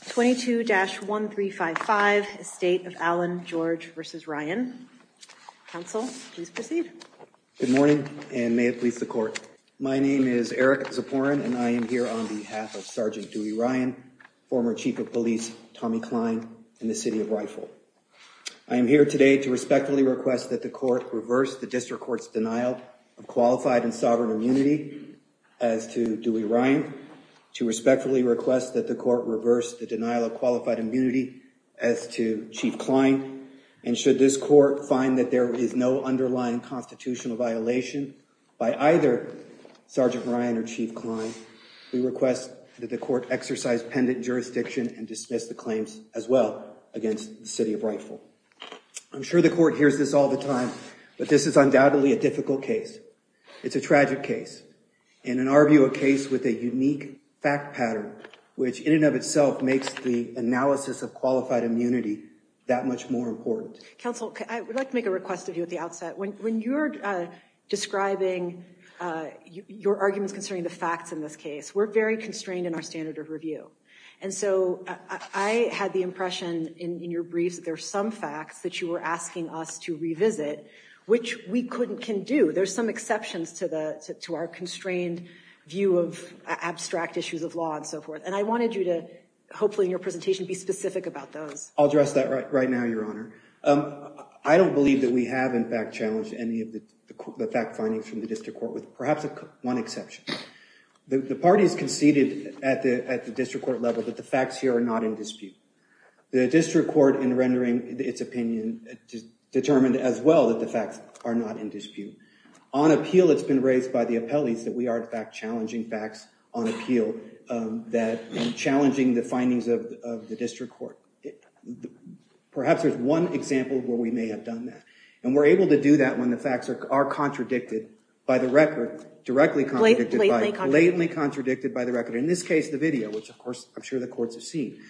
22-1355, Estate of Allan George v. Ryan. Counsel, please proceed. Good morning, and may it please the court. My name is Eric Zaporin, and I am here on behalf of Sergeant Dewey Ryan, former Chief of Police Tommy Kline, and the City of Wrightville. I am here today to respectfully request that the court reverse the district court's denial of qualified and sovereign immunity as to Dewey Ryan, to respectfully request that the court reverse the denial of qualified immunity as to Chief Kline, and should this court find that there is no underlying constitutional violation by either Sergeant Ryan or Chief Kline, we request that the court exercise pendant jurisdiction and dismiss the claims as well against the City of Wrightville. I'm sure the court hears this all the time, but this is undoubtedly a difficult case. It's a tragic case. And in our view, a case with a unique fact pattern, which in and of itself makes the analysis of qualified immunity that much more important. Counsel, I would like to make a request of you at the outset. When you're describing your arguments concerning the facts in this case, we're very constrained in our standard of review. And so I had the impression in your briefs that there are some facts that you were asking us to revisit, which we couldn't, can do. There's some exceptions to our constrained view of abstract issues of law and so forth. And I wanted you to, hopefully in your presentation, be specific about those. I'll address that right now, Your Honor. I don't believe that we have in fact challenged any of the fact findings from the district court, with perhaps one exception. The parties conceded at the district court level that the facts here are not in dispute. The district court, in rendering its opinion, determined as well that the facts are not in dispute. On appeal, it's been raised by the appellees that we are in fact challenging facts on appeal, that challenging the findings of the district court. Perhaps there's one example where we may have done that. And we're able to do that when the facts are contradicted by the record, directly contradicted, blatantly contradicted by the record. In this case, the video, which, of course, I'm sure the courts have seen.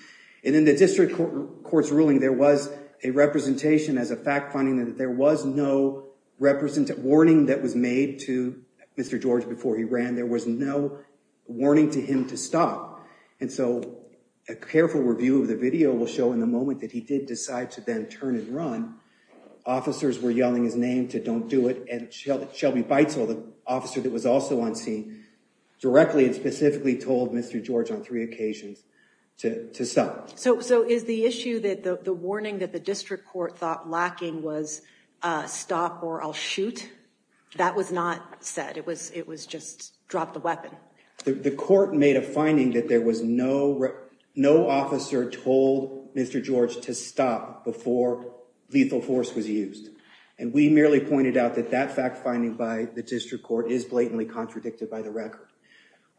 And in the district court's ruling, there was a representation as a fact finding that there was no warning that was made to Mr. George before he ran. There was no warning to him to stop. And so, a careful review of the video will show in the moment that he did decide to then turn and run. Officers were yelling his name to don't do it. And Shelby Beitzel, the officer that was also on scene, directly and specifically told Mr. George on three occasions to stop. So is the issue that the warning that the district court thought lacking was stop or I'll shoot? That was not said. It was just drop the weapon. The court made a finding that there was no officer told Mr. George to stop before lethal force was used. And we merely pointed out that that fact finding by the district court is blatantly contradicted by the record.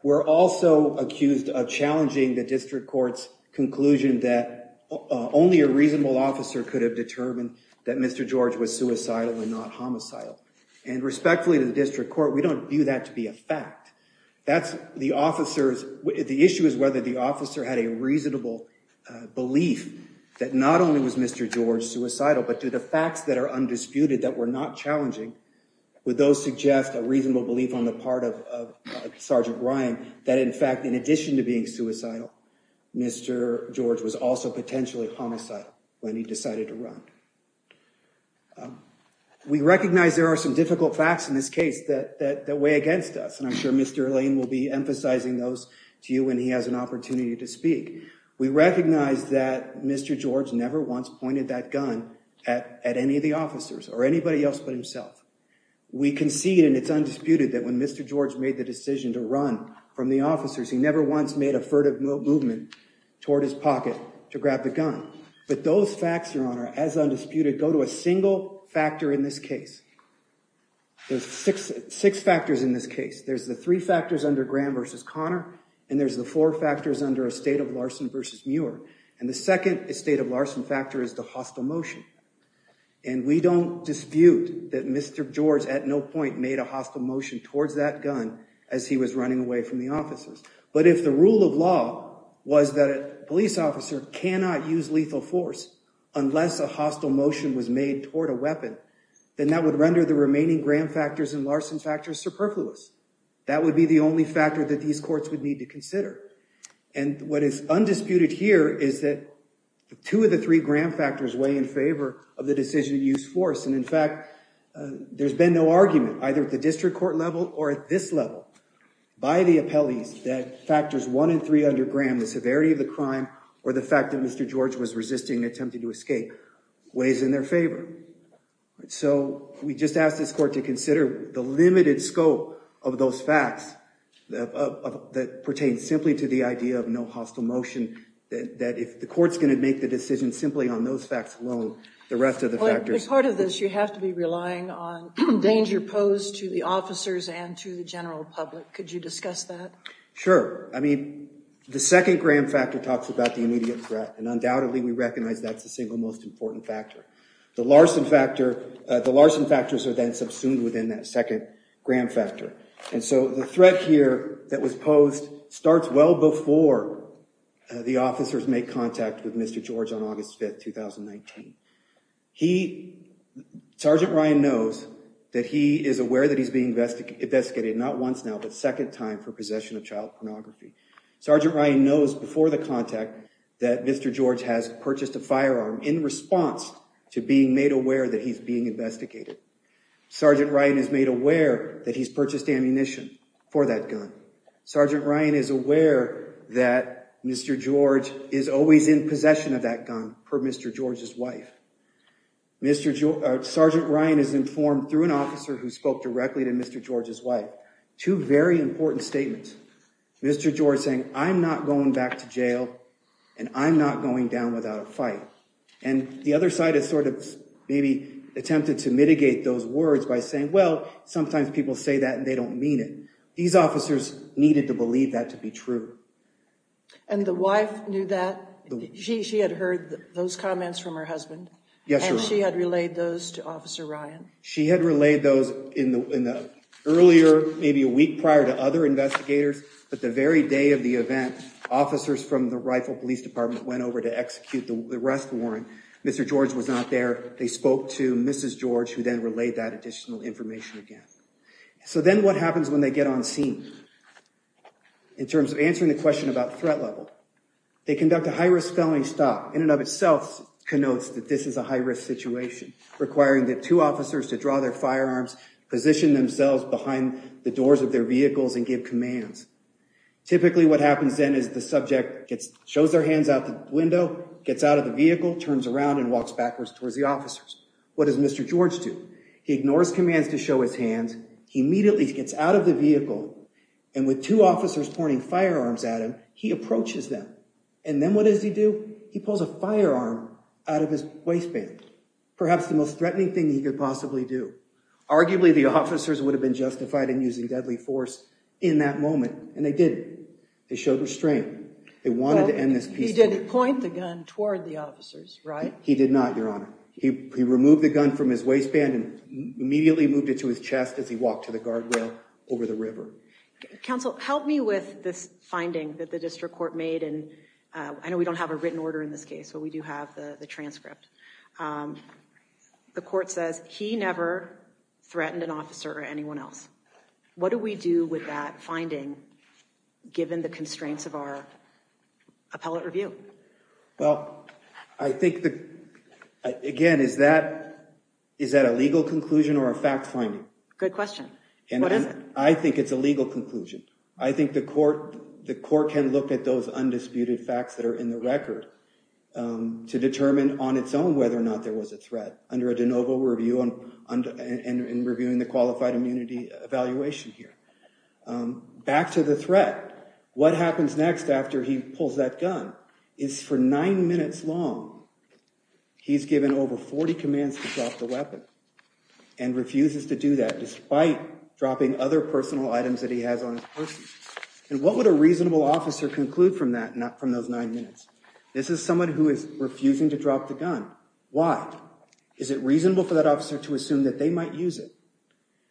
We're also accused of challenging the district court's conclusion that only a reasonable officer could have determined that Mr. George was suicidal and not homicidal and respectfully to the district court. We don't view that to be a fact. That's the officers. The issue is whether the officer had a reasonable belief that not only was Mr. George suicidal, but do the facts that are undisputed that were not challenging with those suggest a reasonable belief on the part of Sergeant Ryan that in fact, in addition to being suicidal, Mr. George was also potentially homicidal when he decided to run. We recognize there are some difficult facts in this case that way against us. And I'm sure Mr. Lane will be emphasizing those to you when he has an opportunity to speak. We recognize that Mr. George never once pointed that gun at any of the officers or anybody else but himself. We can see and it's undisputed that when Mr. George made the decision to run from the officers, he never once made a furtive movement toward his pocket to grab the gun. But those facts, your honor, as undisputed go to a single factor in this case. There's six factors in this case. There's the three factors under Graham versus Connor, and there's the four factors under a state of Larson versus Muir. And the second state of Larson factor is the hostile motion. And we don't dispute that Mr. George at no point made a hostile motion towards that gun as he was running away from the offices. But if the rule of law was that a police officer cannot use lethal force unless a hostile motion was made toward a weapon, then that would render the remaining Graham factors and Larson factors superfluous. That would be the only factor that these courts would need to consider. And what is undisputed here is that two of the three Graham factors weigh in favor of the decision to use force. And in fact, there's been no argument, either at the district court level or at this level, by the appellees that factors one and three under Graham, the severity of the crime, or the fact that Mr. George was resisting attempting to escape, weighs in their favor. So we just ask this court to consider the limited scope of those facts that pertain simply to the idea of no hostile motion, that if the court's going to make the decision simply on those facts alone, the rest of the factors- As part of this, you have to be relying on danger posed to the officers and to the general public. Could you discuss that? Sure. I mean, the second Graham factor talks about the immediate threat, and undoubtedly we recognize that's the single most important factor. The Larson factors are then subsumed within that second Graham factor. And so the threat here that was posed starts well before the officers make contact with Mr. George on August 5th, 2019. Sergeant Ryan knows that he is aware that he's being investigated, not once now, but second time for possession of child pornography. Sergeant Ryan knows before the contact that Mr. George has purchased a firearm in response to being made aware that he's being investigated. Sergeant Ryan is made aware that he's purchased ammunition for that gun. Sergeant Ryan is aware that Mr. George is always in possession of that gun per Mr. George's wife. Sergeant Ryan is informed through an officer who spoke directly to Mr. George's wife, two very important statements. Mr. George saying, I'm not going back to jail and I'm not going down without a fight. And the other side is sort of maybe attempted to mitigate those words by saying, well, sometimes people say that and they don't mean it. These officers needed to believe that to be true. And the wife knew that? She had heard those comments from her husband. Yes, she had relayed those to Officer Ryan. She had relayed those in the earlier maybe a week prior to other investigators, but the very day of the event officers from the rifle police department went over to execute the arrest warrant. Mr. George was not there. They spoke to Mrs. George who then relayed that additional information again. So then what happens when they get on scene? In terms of answering the question about threat level, they conduct a high-risk felony stop in and of itself connotes that this is a high-risk situation requiring the two officers to draw their firearms, position themselves behind the doors of their vehicles and give commands. Typically what happens then is the subject gets shows their hands out the window, gets out of the vehicle, turns around and walks backwards towards the officers. What does Mr. George do? He ignores commands to show his hands. He immediately gets out of the vehicle and with two officers pointing firearms at him, he approaches them and then what does he do? He pulls a firearm out of his waistband. Perhaps the most threatening thing he could possibly do. Arguably the officers would have been justified in using deadly force in that moment and they did. They showed restraint. They wanted to end this case. He didn't point the gun toward the officers, right? He did not, Your Honor. He removed the gun from his waistband and immediately moved it to his chest as he walked to the guardrail over the river. Counsel, help me with this finding that the district court made and I know we don't have a written order in this case, but we do have the transcript. The court says he never threatened an officer or anyone else. What do we do with that finding given the constraints of our appellate review? Well, I think that, again, is that a legal conclusion or a fact finding? Good question. I think it's a legal conclusion. I think the court can look at those undisputed facts that are in the record to determine on its own whether or not there was a threat under a de novo review and reviewing the qualified immunity evaluation here. Back to the threat. What happens next after he pulls that gun is for nine minutes long, he's given over 40 commands to drop the weapon and refuses to do that, despite dropping other personal items that he has on his person. And what would a reasonable officer conclude from that, not from those nine minutes? This is someone who is refusing to drop the gun. Why? Is it reasonable for that officer to assume that they might use it?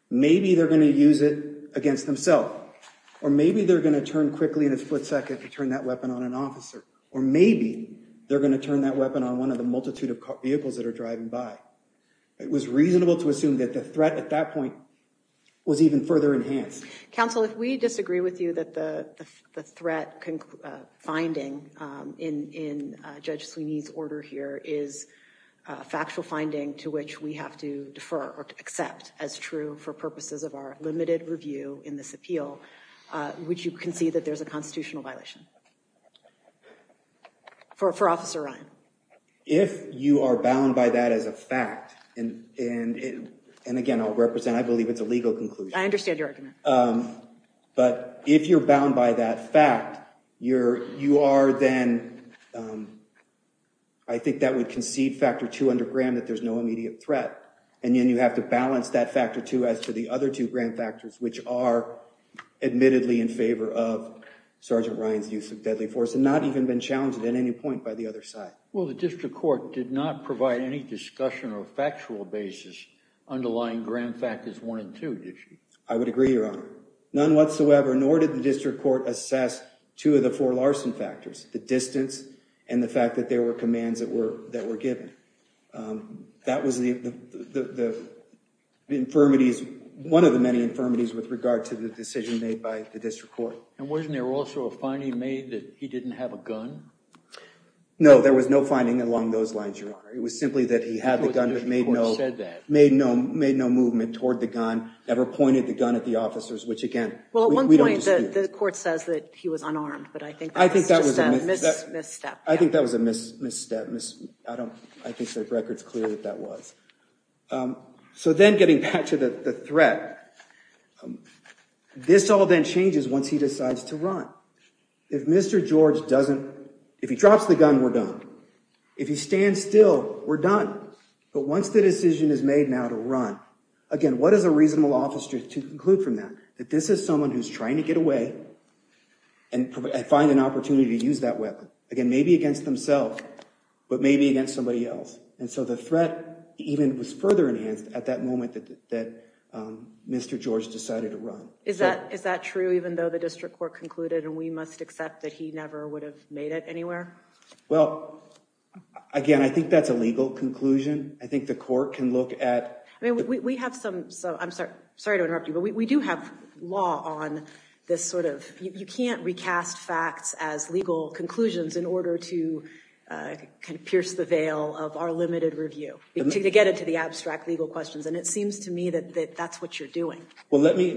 Maybe they're going to use it against themselves, or maybe they're going to turn quickly in a split second to turn that weapon on an officer, or maybe they're going to turn that weapon on one of the multitude of vehicles that are driving by. It was reasonable to assume that the threat at that point was even further enhanced. Counsel, if we disagree with you that the threat finding in Judge Sweeney's order here is a factual finding to which we have to defer or to accept as true for purposes of our limited review in this appeal, which you can see that there's a constitutional violation. For Officer Ryan. If you are bound by that as a fact, and again, I'll represent, I believe it's a legal conclusion. I understand your argument. But if you're bound by that fact, you are then, I think that would concede factor two under Graham that there's no immediate threat. And then you have to balance that factor two as to the other two Graham factors, which are admittedly in favor of Sergeant Ryan's use of deadly force and not even been challenged at any point by the other side. Well, the district court did not provide any discussion or factual basis underlying Graham factors one and two, did she? I would agree, Your Honor. None whatsoever. Nor did the district court assess two of the four Larson factors, the distance and the fact that there were commands that were given. That was one of the many infirmities with regard to the decision made by the district court. And wasn't there also a finding made that he didn't have a gun? No, there was no finding along those lines, Your Honor. It was simply that he had the gun but made no movement toward the gun, never pointed the gun at the officers, which again, we don't dispute. The court says that he was unarmed, but I think that was a misstep. I think that was a misstep. I think the record's clear that that was. So then getting back to the threat, this all then changes once he decides to run. If Mr. George doesn't, if he drops the gun, we're done. If he stands still, we're done. But once the decision is made now to run, again, what is a reasonable officer to conclude from that? That this is someone who's trying to get away and find an opportunity to use that weapon. Again, maybe against themselves, but maybe against somebody else. And so the threat even was further enhanced at that moment that Mr. George decided to run. Is that true, even though the district court concluded and we must accept that he never would have made it anywhere? Well, again, I think that's a legal conclusion. I think the court can look at. I mean, we have some, so I'm sorry, sorry to interrupt you, but we do have law on this sort of, you can't recast facts as legal conclusions in order to kind of pierce the veil of our limited review. To get into the abstract legal questions. And it seems to me that that's what you're doing. Well, let me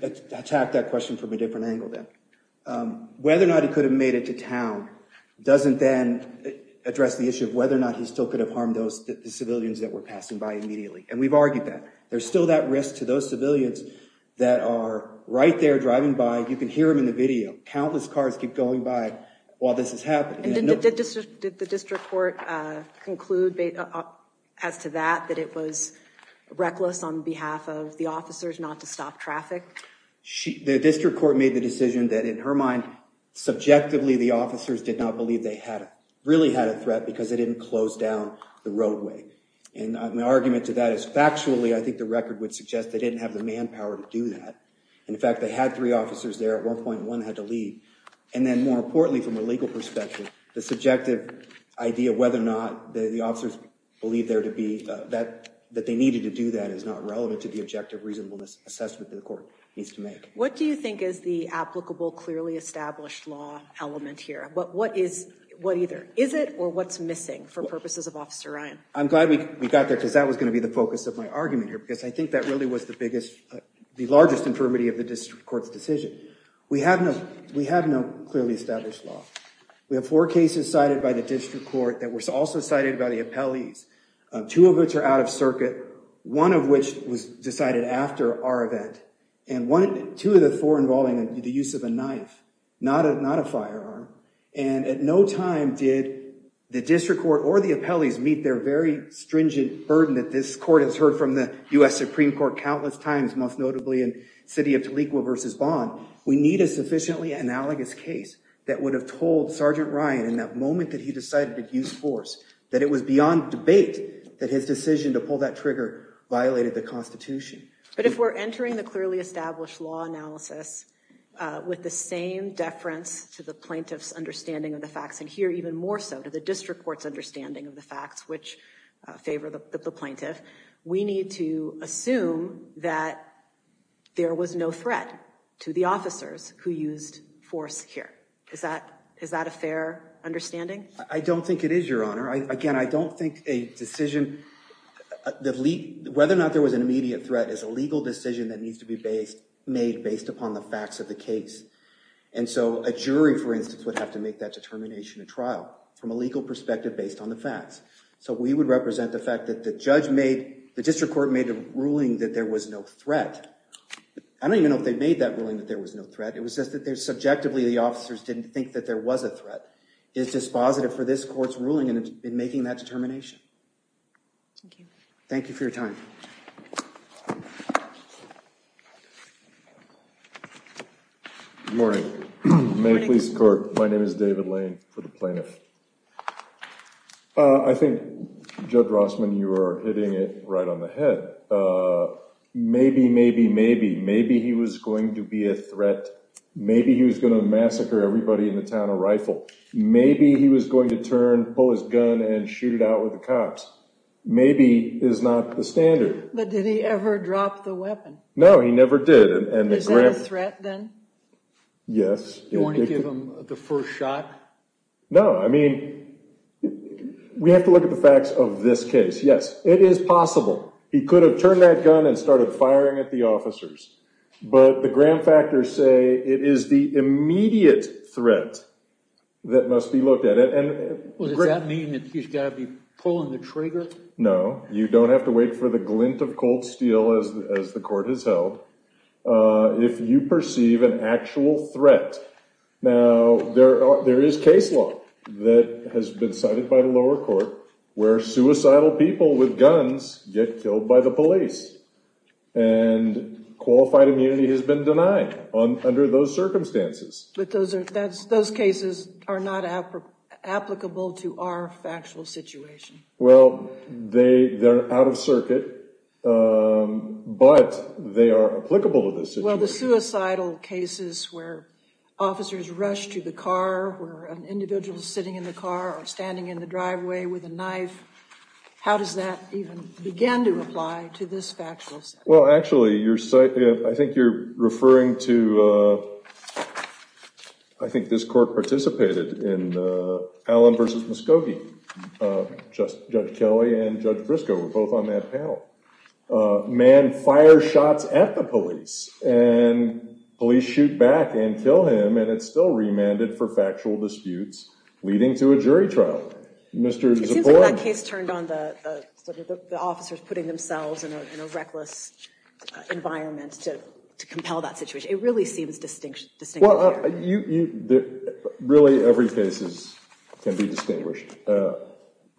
attack that question from a different angle then. Whether or not he could have made it to town doesn't then address the issue of whether or not he still could have harmed those civilians that were passing by immediately. And we've argued that there's still that risk to those civilians that are right there driving by. You can hear him in the video. Countless cars keep going by while this is happening. Did the district court conclude as to that, that it was reckless on behalf of the officers not to stop traffic? The district court made the decision that in her mind, because they didn't close down the roadway. And my argument to that is factually, I think the record would suggest they didn't have the manpower to do that. In fact, they had three officers there at one point and one had to leave. And then more importantly, from a legal perspective, the subjective idea of whether or not the officers believe there to be that, that they needed to do that is not relevant to the objective reasonableness assessment that the court needs to make. What do you think is the applicable, clearly established law element here? But what is, what either is it or what's missing for purposes of Officer Ryan? I'm glad we got there because that was going to be the focus of my argument here, because I think that really was the biggest, the largest infirmity of the district court's decision. We have no, we have no clearly established law. We have four cases cited by the district court that were also cited by the appellees, two of which are out of circuit, one of which was decided after our event. And one, two of the four involving the use of a knife, not a, not a firearm. And at no time did the district court or the appellees meet their very stringent burden that this court has heard from the U.S. Supreme Court countless times, most notably in City of Toleco v. Bond. We need a sufficiently analogous case that would have told Sergeant Ryan in that moment that he decided to use force, that it was beyond debate that his decision to pull that trigger violated the Constitution. But if we're entering the clearly established law analysis with the same deference to the plaintiff's understanding of the facts, and here even more so to the district court's understanding of the facts which favor the plaintiff, we need to assume that there was no threat to the officers who used force here. Is that, is that a fair understanding? I don't think it is, Your Honor. Again, I don't think a decision, whether or not there was an immediate threat, is a legal decision that needs to be based, made based upon the facts of the case. And so a jury, for instance, would have to make that determination at trial from a legal perspective based on the facts. So we would represent the fact that the judge made, the district court made a ruling that there was no threat. I don't even know if they made that ruling that there was no threat. It was just that there's subjectively the officers didn't think that there was a threat. It's dispositive for this court's ruling in making that determination. Thank you for your time. Good morning. May it please the court. My name is David Lane for the plaintiff. I think, Judge Rossman, you are hitting it right on the head. Maybe, maybe, maybe, maybe he was going to be a threat. Maybe he was going to massacre everybody in the town of Rifle. Maybe he was going to turn, pull his gun and shoot it out with the cops. Maybe is not the standard. But did he ever drop the weapon? No, he never did. And is that a threat then? Yes. You want to give him the first shot? No, I mean, we have to look at the facts of this case. Yes, it is possible. He could have turned that gun and started firing at the officers. But the gram factors say it is the immediate threat that must be looked at. And does that mean that he's got to be pulling the trigger? No, you don't have to wait for the glint of cold steel as the court has held. If you perceive an actual threat. Now, there is case law that has been cited by the lower court where suicidal people with guns get killed by the police. And qualified immunity has been denied under those circumstances. But those cases are not applicable to our factual situation. Well, they're out of circuit, but they are applicable to this situation. Well, the suicidal cases where officers rush to the car, where an individual is sitting in the car or standing in the driveway with a knife. How does that even begin to apply to this factual situation? Well, actually, I think you're referring to, I think this court participated in Allen v. Muscogee. Judge Kelly and Judge Briscoe were both on that panel. A man fires shots at the police and police shoot back and kill him. And it's still remanded for factual disputes, leading to a jury trial. It seems like that case turned on the officers putting themselves in a reckless environment to compel that situation. It really seems distinct.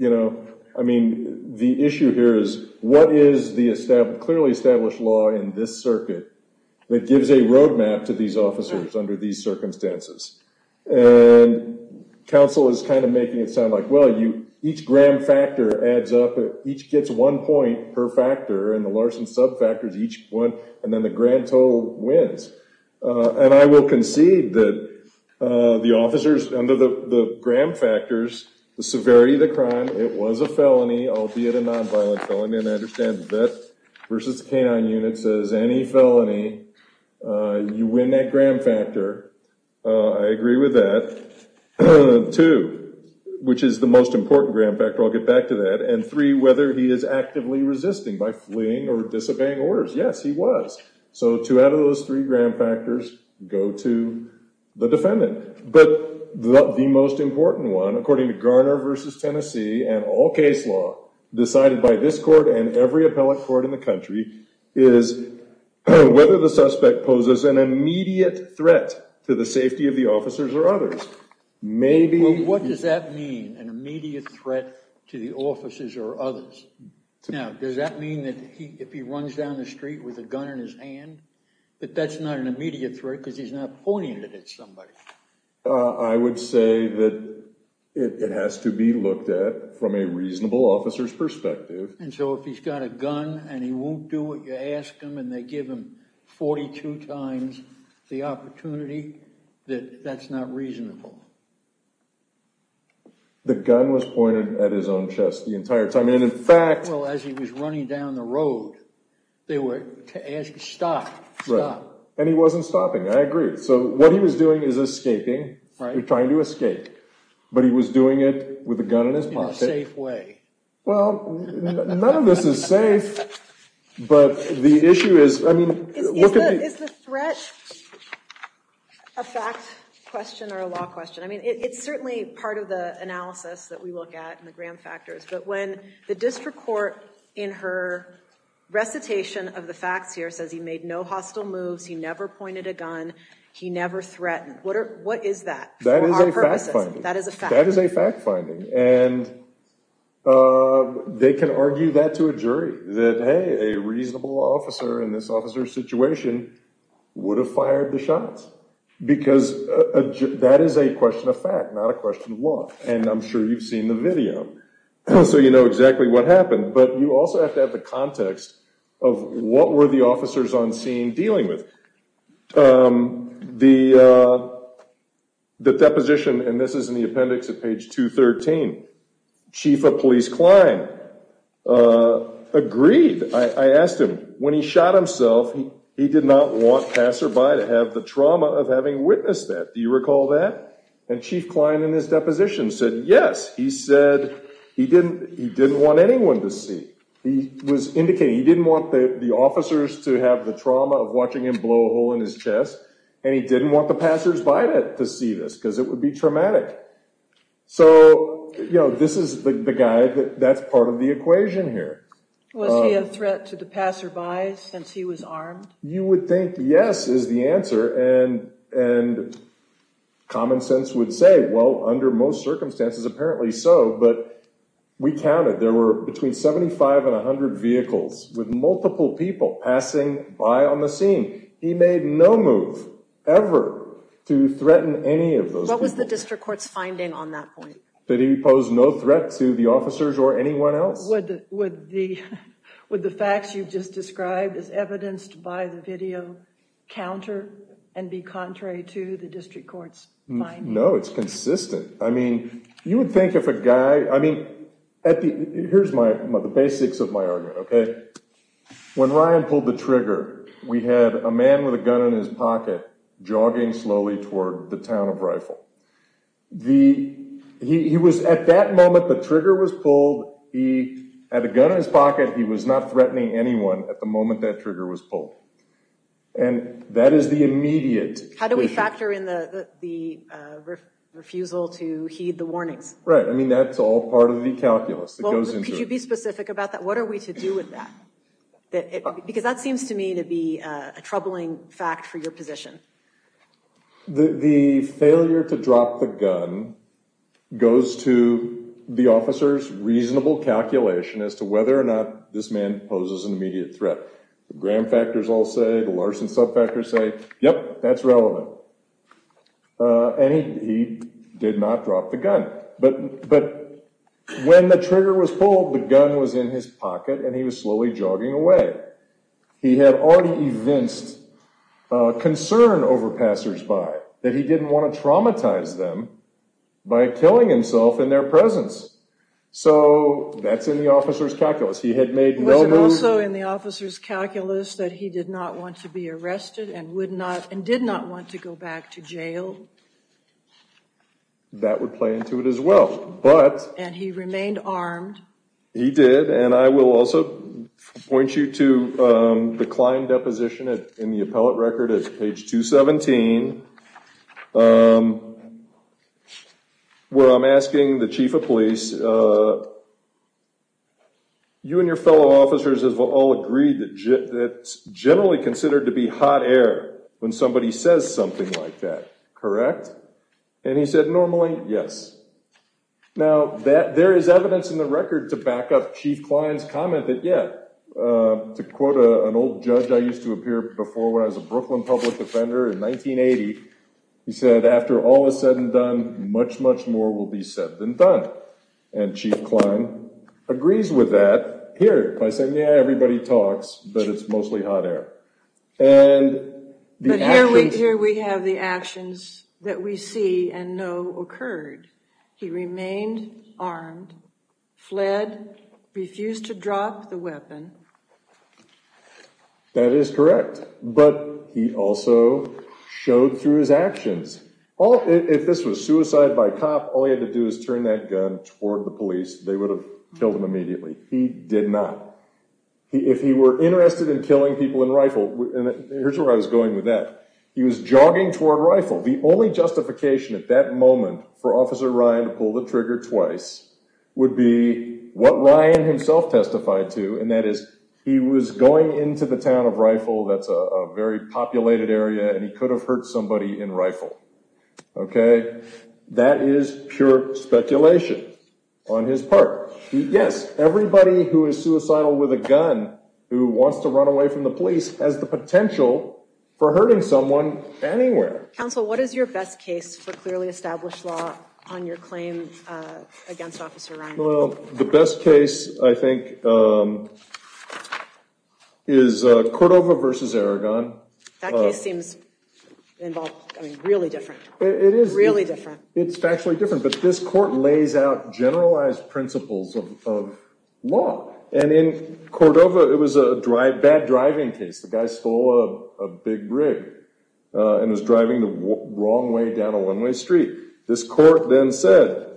You know, I mean, the issue here is what is the clearly established law in this circuit that gives a roadmap to these officers under these circumstances? And counsel is kind of making it sound like, well, each gram factor adds up. Each gets one point per factor. And the Larson subfactor is each one. And then the grand total wins. And I will concede that the officers under the gram factors, the severity of the crime, it was a felony, albeit a nonviolent felony. And I understand that versus K-9 unit says any felony, you win that gram factor. I agree with that. Two, which is the most important gram factor, I'll get back to that. And three, whether he is actively resisting by fleeing or disobeying orders. Yes, he was. So two out of those three gram factors go to the defendant. But the most important one, according to Garner versus Tennessee and all case law decided by this court and every appellate court in the country, is whether the suspect poses an immediate threat to the safety of the officers or others. Maybe— What does that mean, an immediate threat to the officers or others? Now, does that mean that if he runs down the street with a gun in his hand, that that's not an immediate threat because he's not pointing it at somebody? I would say that it has to be looked at from a reasonable officer's perspective. And so if he's got a gun and he won't do what you ask him and they give him 42 times the opportunity, that that's not reasonable. The gun was pointed at his own chest the entire time. I mean, in fact— Well, as he was running down the road, they were asking, stop, stop. And he wasn't stopping. I agree. So what he was doing is escaping, trying to escape. But he was doing it with a gun in his pocket. In a safe way. Well, none of this is safe. But the issue is, I mean— Is the threat a fact question or a law question? I mean, it's certainly part of the analysis that we look at in the gram factors. But when the district court, in her recitation of the facts here, says he made no hostile moves, he never pointed a gun, he never threatened, what is that for our purposes? That is a fact. That is a fact finding. And they can argue that to a jury, that, hey, a reasonable officer in this officer's situation would have fired the shots. Because that is a question of fact, not a question of law. And I'm sure you've seen the video. So you know exactly what happened. But you also have to have the context of what were the officers on scene dealing with. The deposition, and this is in the appendix at page 213, Chief of Police Klein agreed. I asked him. When he shot himself, he did not want passerby to have the trauma of having witnessed that. Do you recall that? And Chief Klein, in his deposition, said, yes. He said he didn't want anyone to see. He was indicating he didn't want the officers to have the trauma of watching him blow a hole in his chest. And he didn't want the passersby to see this, because it would be traumatic. So this is the guy that's part of the equation here. Was he a threat to the passerby since he was armed? You would think yes is the answer. And common sense would say, well, under most circumstances, apparently so. But we counted. There were between 75 and 100 vehicles with multiple people passing by on the scene. He made no move ever to threaten any of those people. What was the district court's finding on that point? That he posed no threat to the officers or anyone else. Would the facts you've just described, as evidenced by the video, counter and be contrary to the district court's finding? No, it's consistent. I mean, you would think if a guy, I mean, here's the basics of my argument. When Ryan pulled the trigger, we had a man with a gun in his pocket, jogging slowly toward the town of Rifle. He was, at that moment, the trigger was pulled. He had a gun in his pocket. He was not threatening anyone at the moment that trigger was pulled. And that is the immediate issue. How do we factor in the refusal to heed the warnings? Right, I mean, that's all part of the calculus that goes into it. Could you be specific about that? What are we to do with that? Because that seems to me to be a troubling fact for your position. The failure to drop the gun goes to the officer's reasonable calculation as to whether or not this man poses an immediate threat. The Graham factors all say, the Larson sub-factors say, yep, that's relevant. And he did not drop the gun. But when the trigger was pulled, the gun was in his pocket, and he was slowly jogging away. He had already evinced concern over passers-by, that he didn't want to traumatize them by killing himself in their presence. So that's in the officer's calculus. He had made no move. Was it also in the officer's calculus that he did not want to be arrested and did not want to go back to jail? That would play into it as well. And he remained armed. He did. And I will also point you to the client deposition in the appellate record at page 217, where I'm asking the chief of police, you and your fellow officers have all agreed that it's generally considered to be hot air when somebody says something like that, correct? And he said, normally, yes. Now, there is evidence in the record to back up Chief Kline's comment that, yeah, to quote an old judge I used to appear before when I was a Brooklyn public defender in 1980, he said, after all is said and done, much, much more will be said than done. And Chief Kline agrees with that here by saying, yeah, everybody talks, but it's mostly hot air. And the actions- He remained armed, fled, refused to drop the weapon. That is correct. But he also showed through his actions. If this was suicide by cop, all he had to do is turn that gun toward the police, they would have killed him immediately. He did not. If he were interested in killing people in rifle, and here's where I was going with that, he was jogging toward rifle. The only justification at that moment for Officer Ryan to pull the trigger twice would be what Ryan himself testified to, and that is he was going into the town of rifle, that's a very populated area, and he could have hurt somebody in rifle. Okay? That is pure speculation on his part. Yes, everybody who is suicidal with a gun who wants to run away from the police has the potential for hurting someone anywhere. Counsel, what is your best case for clearly established law on your claim against Officer Ryan? Well, the best case, I think, is Cordova versus Aragon. That case seems involved, I mean, really different. It is. Really different. It's factually different, but this court lays out generalized principles of law. And in Cordova, it was a bad driving case. The guy stole a big rig and was driving the wrong way down a one-way street. This court then said,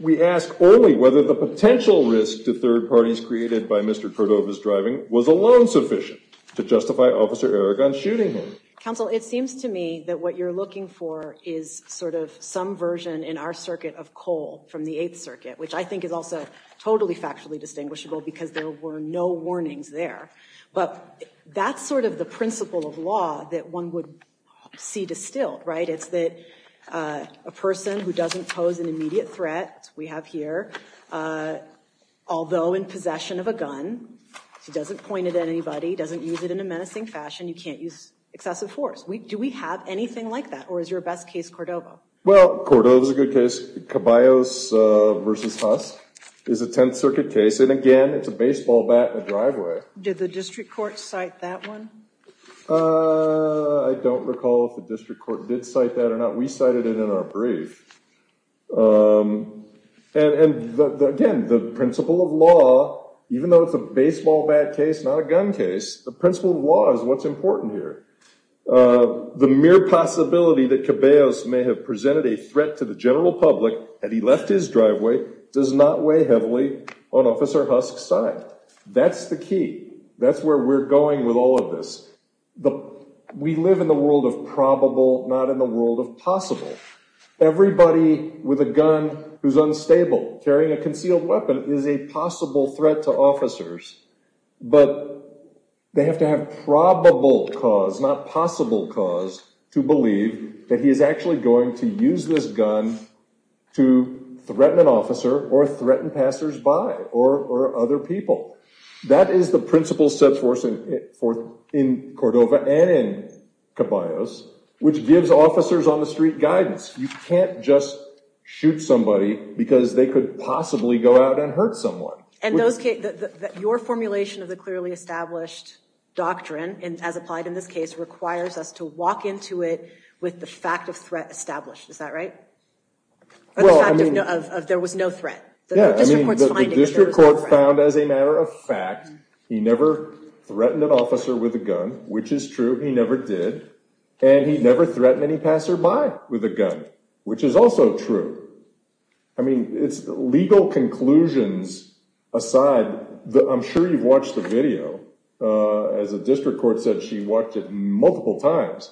we ask only whether the potential risk to third parties created by Mr. Cordova's driving was alone sufficient to justify Officer Aragon shooting him. Counsel, it seems to me that what you're looking for is sort of some version in our circuit of Cole from the Eighth Circuit, which I think is also totally factually distinguishable because there were no warnings there. But that's sort of the principle of law that one would see distilled, right? It's that a person who doesn't pose an immediate threat, we have here, although in possession of a gun, he doesn't point it at anybody, doesn't use it in a menacing fashion, you can't use excessive force. Do we have anything like that? Or is your best case Cordova? Well, Cordova is a good case. Caballos versus Huss is a Tenth Circuit case. And again, it's a baseball bat in a driveway. Did the district court cite that one? I don't recall if the district court did cite that or not. We cited it in our brief. And again, the principle of law, even though it's a baseball bat case, not a gun case, the principle of law is what's important here. The mere possibility that Caballos may have presented a threat to the general public and he left his driveway does not weigh heavily on Officer Husk's side. That's the key. That's where we're going with all of this. We live in the world of probable, not in the world of possible. Everybody with a gun who's unstable carrying a concealed weapon is a possible threat to officers. But they have to have probable cause, not possible cause, to believe that he is actually going to use this gun to threaten an officer or threaten passersby or other people. That is the principle set forth in Cordova and in Caballos, which gives officers on the street guidance. You can't just shoot somebody because they could possibly go out and hurt someone. And your formulation of the clearly established doctrine, as applied in this case, requires us to walk into it with the fact of threat established. Is that right? Or the fact of there was no threat? Yeah, I mean, the district court found as a matter of fact he never threatened an officer with a gun, which is true. He never did. And he never threatened any passerby with a gun, which is also true. I mean, it's legal conclusions aside. I'm sure you've watched the video. As a district court said, she watched it multiple times.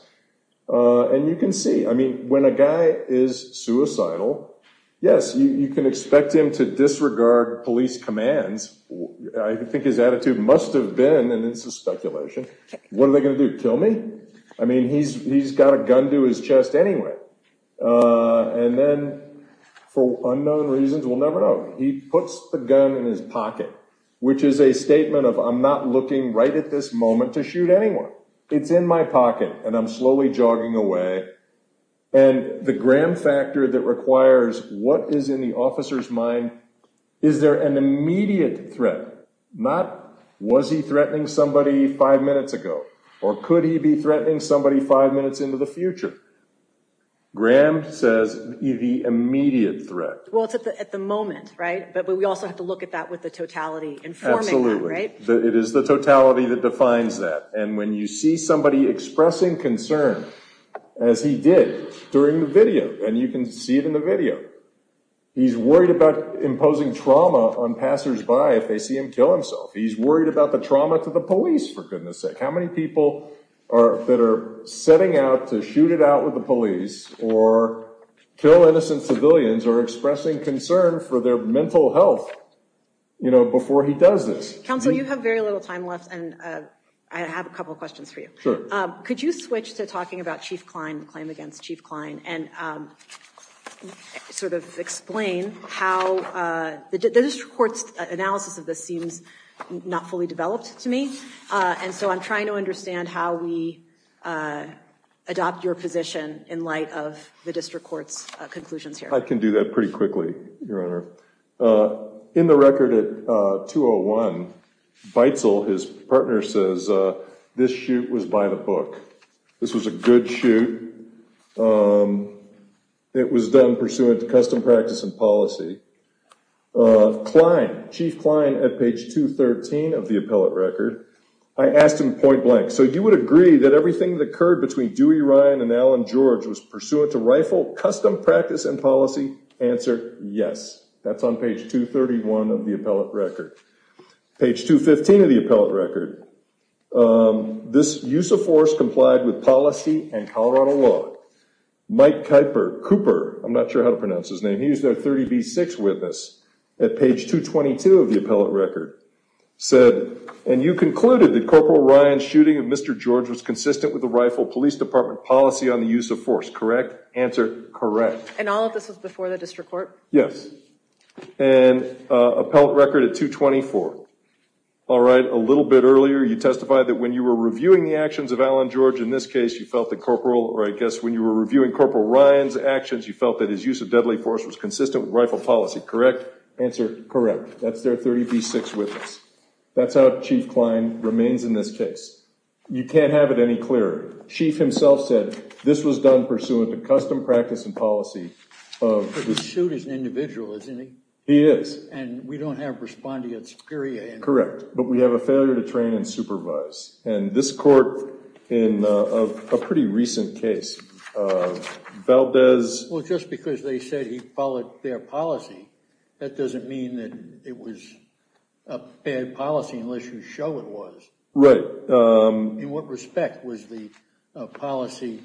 And you can see, I mean, when a guy is suicidal, yes, you can expect him to disregard police commands. I think his attitude must have been, and this is speculation, what are they going to do, kill me? I mean, he's got a gun to his chest anyway. And then for unknown reasons, we'll never know. He puts the gun in his pocket, which is a statement of, I'm not looking right at this moment to shoot anyone. It's in my pocket, and I'm slowly jogging away. And the Graham factor that requires what is in the officer's mind, is there an immediate threat? Not, was he threatening somebody five minutes ago? Or could he be threatening somebody five minutes into the future? Graham says the immediate threat. Well, it's at the moment, right? But we also have to look at that with the totality informing that, right? It is the totality that defines that. And when you see somebody expressing concern, as he did during the video, and you can see it in the video, he's worried about imposing trauma on passersby if they see him kill himself. He's worried about the trauma to the police, for goodness sake. How many people that are setting out to shoot it out with the police, or kill innocent civilians, or expressing concern for their mental health before he does this? Counsel, you have very little time left, and I have a couple questions for you. Sure. Could you switch to talking about Chief Klein, the claim against Chief Klein, and sort of explain how the district court's analysis of this seems not fully developed to me. And so I'm trying to understand how we adopt your position in light of the district court's conclusions here. I can do that pretty quickly, Your Honor. In the record at 201, Beitzel, his partner, says this shoot was by the book. This was a good shoot. It was done pursuant to custom practice and policy. Klein, Chief Klein at page 213 of the appellate record, I asked him point blank, so you would agree that everything that occurred between Dewey Ryan and Alan George was pursuant to rifle, custom practice, and policy? Answer, yes. That's on page 231 of the appellate record. Page 215 of the appellate record, this use of force complied with policy and Colorado law. Mike Kuiper, Cooper, I'm not sure how to pronounce his name, he's their 30B6 witness, at page 222 of the appellate record, said, and you concluded that Corporal Ryan's shooting of Mr. George was consistent with the rifle police department policy on the use of force, correct? Answer, correct. And all of this was before the district court? Yes. And appellate record at 224. All right. A little bit earlier, you testified that when you were reviewing the actions of Alan George in this case, you felt that Corporal, or I guess when you were reviewing Corporal Ryan's actions, you felt that his use of deadly force was consistent with rifle policy, correct? Answer, correct. That's their 30B6 witness. That's how Chief Klein remains in this case. You can't have it any clearer. Chief himself said, this was done pursuant to custom practice and policy. But the suit is an individual, isn't he? He is. And we don't have respondeats, period. Correct. But we have a failure to train and supervise. And this court, in a pretty recent case, Valdez. Well, just because they said he followed their policy, that doesn't mean that it was a bad policy unless you show it was. Right. In what respect was the policy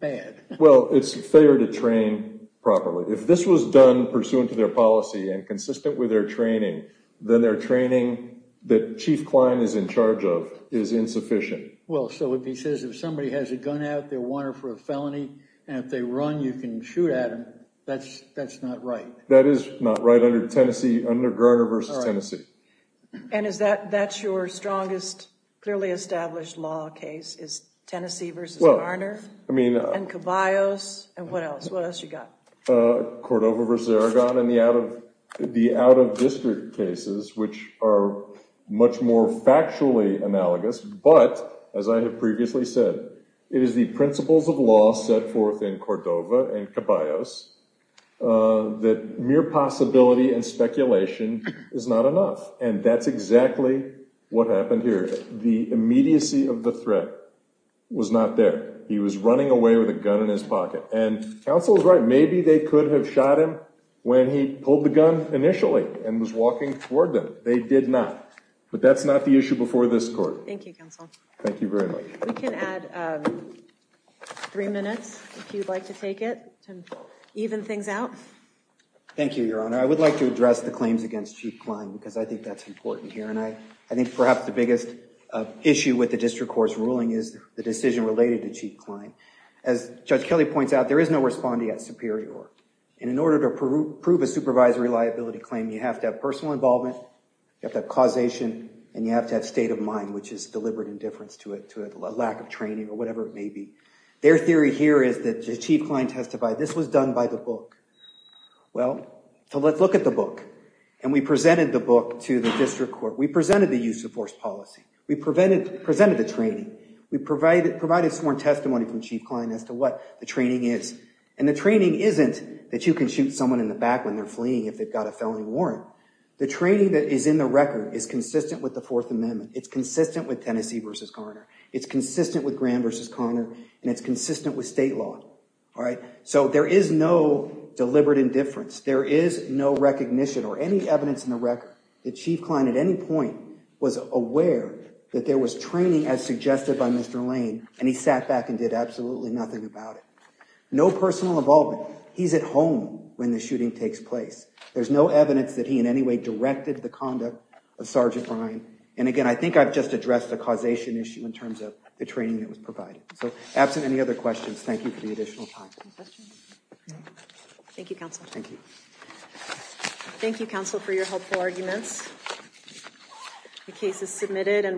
bad? Well, it's a failure to train properly. If this was done pursuant to their policy and consistent with their training, then their training that Chief Klein is in charge of is insufficient. Well, so if he says if somebody has a gun out, they're wanted for a felony, and if they run, you can shoot at them, that's not right. That is not right under Garner v. Tennessee. And that's your strongest, clearly established law case, is Tennessee v. Garner and Caballos? And what else? What else you got? Cordova v. Aragon and the out-of-district cases, which are much more factually analogous. But as I have previously said, it is the principles of law set forth in Cordova and Caballos that mere possibility and speculation is not enough. And that's exactly what happened here. The immediacy of the threat was not there. He was running away with a gun in his pocket. And counsel is right. Maybe they could have shot him when he pulled the gun initially and was walking toward them. They did not. But that's not the issue before this court. Thank you, counsel. Thank you very much. We can add three minutes, if you'd like to take it, to even things out. Thank you, Your Honor. I would like to address the claims against Chief Kline, because I think that's important here. And I think perhaps the biggest issue with the district court's ruling is the decision related to Chief Kline. As Judge Kelly points out, there is no respondee at Superior. And in order to prove a supervisory liability claim, you have to have personal involvement, you have to have causation, and you have to have state of mind, which is deliberate indifference to a lack of training or whatever it may be. Their theory here is that Chief Kline testified, this was done by the book. Well, so let's look at the book. And we presented the book to the district court. We presented the use of force policy. We presented the training. We provided sworn testimony from Chief Kline as to what the training is. And the training isn't that you can shoot someone in the back when they're fleeing if they've got a felony warrant. The training that is in the record is consistent with the Fourth Amendment. It's consistent with Tennessee v. Garner. It's consistent with Graham v. Garner. And it's consistent with state law. So there is no deliberate indifference. There is no recognition or any evidence in the record that Chief Kline at any point was aware that there was training as suggested by Mr. Lane, and he sat back and did absolutely nothing about it. No personal involvement. He's at home when the shooting takes place. There's no evidence that he in any way directed the conduct of Sergeant Bryan. And again, I think I've just addressed the causation issue in terms of the training that was provided. So absent any other questions, thank you for the additional time. Any questions? Thank you, counsel. Thank you. Thank you, counsel, for your helpful arguments. The case is submitted.